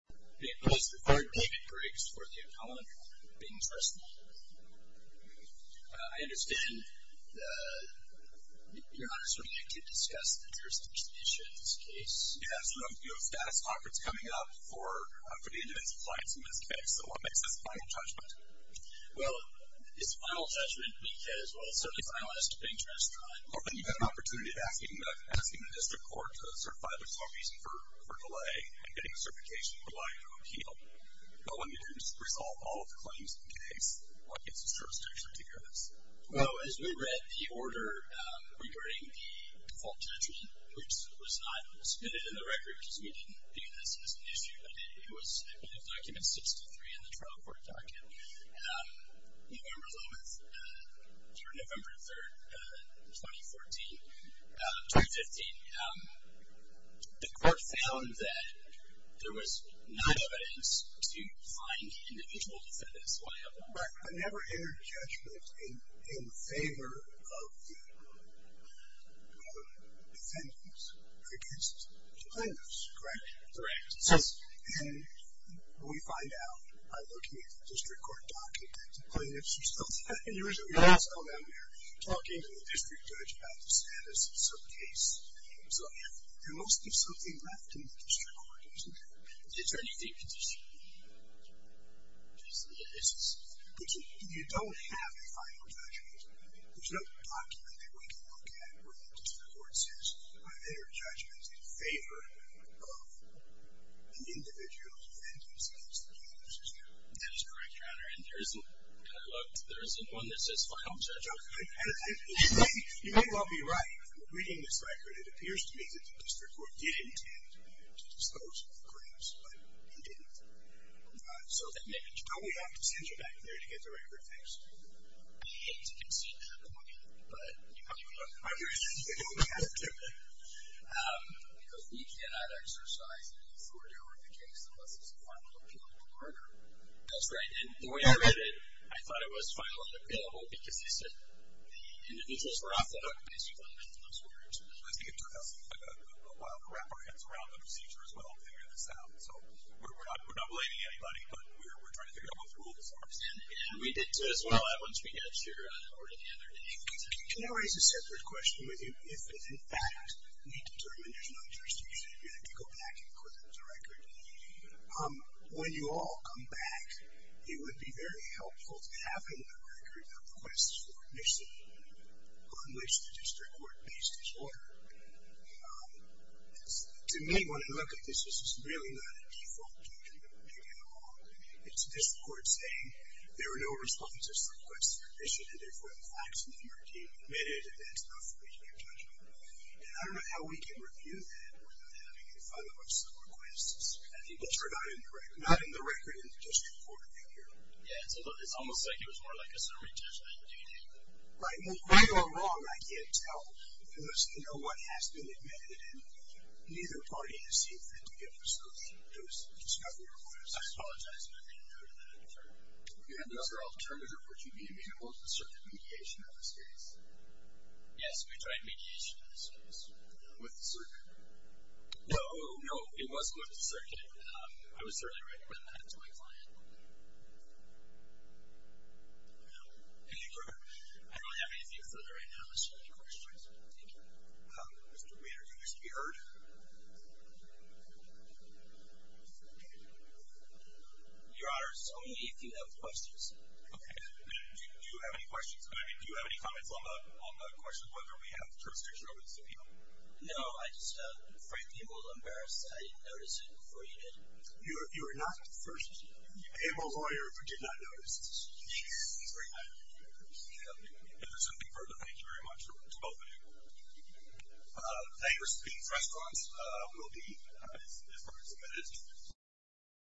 Being placed before David Briggs for the appellant, Bing's Restaurant. I understand that you're not asked to discuss the jurisdiction issue in this case. Yeah, so you have a status conference coming up for the individual clients in this case, so what makes this a final judgment? Well, it's a final judgment because, well, it's certainly finalized at Bing's Restaurant. But you've had an opportunity of asking the district court to certify there's no reason for delay and getting a certification for liability of appeal. But when you didn't resolve all of the claims in the case, what gives the jurisdiction to hear this? Well, as we read the order regarding the default judgment, which was not submitted in the record because we didn't view this as an issue, but it was in Document 63 in the trial court document, November 11th through November 3rd, 2014, 2015, the court found that there was not evidence to find individual defendants liable. Right, but never entered judgment in favor of the defendants against defendants, correct? Correct. And we find out, by looking at the district court document, that plaintiffs are still talking to the district judge about the status of some case. So there must be something left in the district court, isn't there? Is there anything in the district court? You don't have a final judgment. There's no document that we can look at where the district court says that there are judgments in favor of an individual defendants against defendants, is there? That is correct, Your Honor. And there isn't, I looked, there isn't one that says final judgment. You may well be right. Reading this record, it appears to me that the district court did intend to dispose of the claims, but it didn't. So don't we have to send you back there to get the record fixed? I hate to concede that point, but you may be right. Because we cannot exercise any authority over the case unless it's a final appeal in court. That's right. And the way I read it, I thought it was final and appealable because the individuals were off the hook, basically, and that's what we're interested in. I think it took us a while to wrap our heads around the procedure as well and figure this out. So we're not blaming anybody, but we're trying to figure out both rules. And we did, too, as well, once we got your order together. Can I raise a separate question with you? If, in fact, we determine there's no jurisdiction, do we have to go back and put up the record? When you all come back, it would be very helpful to have in the record a request for admission on which the district court based its order. To me, when I look at this, this is really not a default you can make at all. It's this court saying there were no responses to requests for admission, and therefore the facts of the murder team admitted, and that's not for me to be judging. And I don't know how we can review that without having a follow-up of some requests that are not in the record in the district court figure. Yeah, it's almost like it was more like a summary judgment, do you think? Right. Right or wrong, I can't tell because no one has been admitted, and neither party has seemed fit to give us those discovery requests. I apologize if I made a note of that. I'm sorry. Yeah, those are all determinants of what you mean. I mean, what was the circuit mediation in this case? Yes, we tried mediation in this case. With the circuit? No. No, it was with the circuit. I was certainly writing that to my client. Any further? I don't have anything further right now. Is there any questions? Thank you. Mr. Weiner, do you wish to be heard? Your Honor, tell me if you have questions. Okay. Do you have any questions? I mean, do you have any comments on the question of whether we have jurisdiction over this appeal? No, I just am afraid people will be embarrassed that I didn't notice it before you did. You were not the first animal lawyer who did not notice this. Yes. That's very kind of you, Your Honor. Thank you. If there's anything further, thank you very much to both of you. Thank you. They received restaurants. We'll be as far as the minute.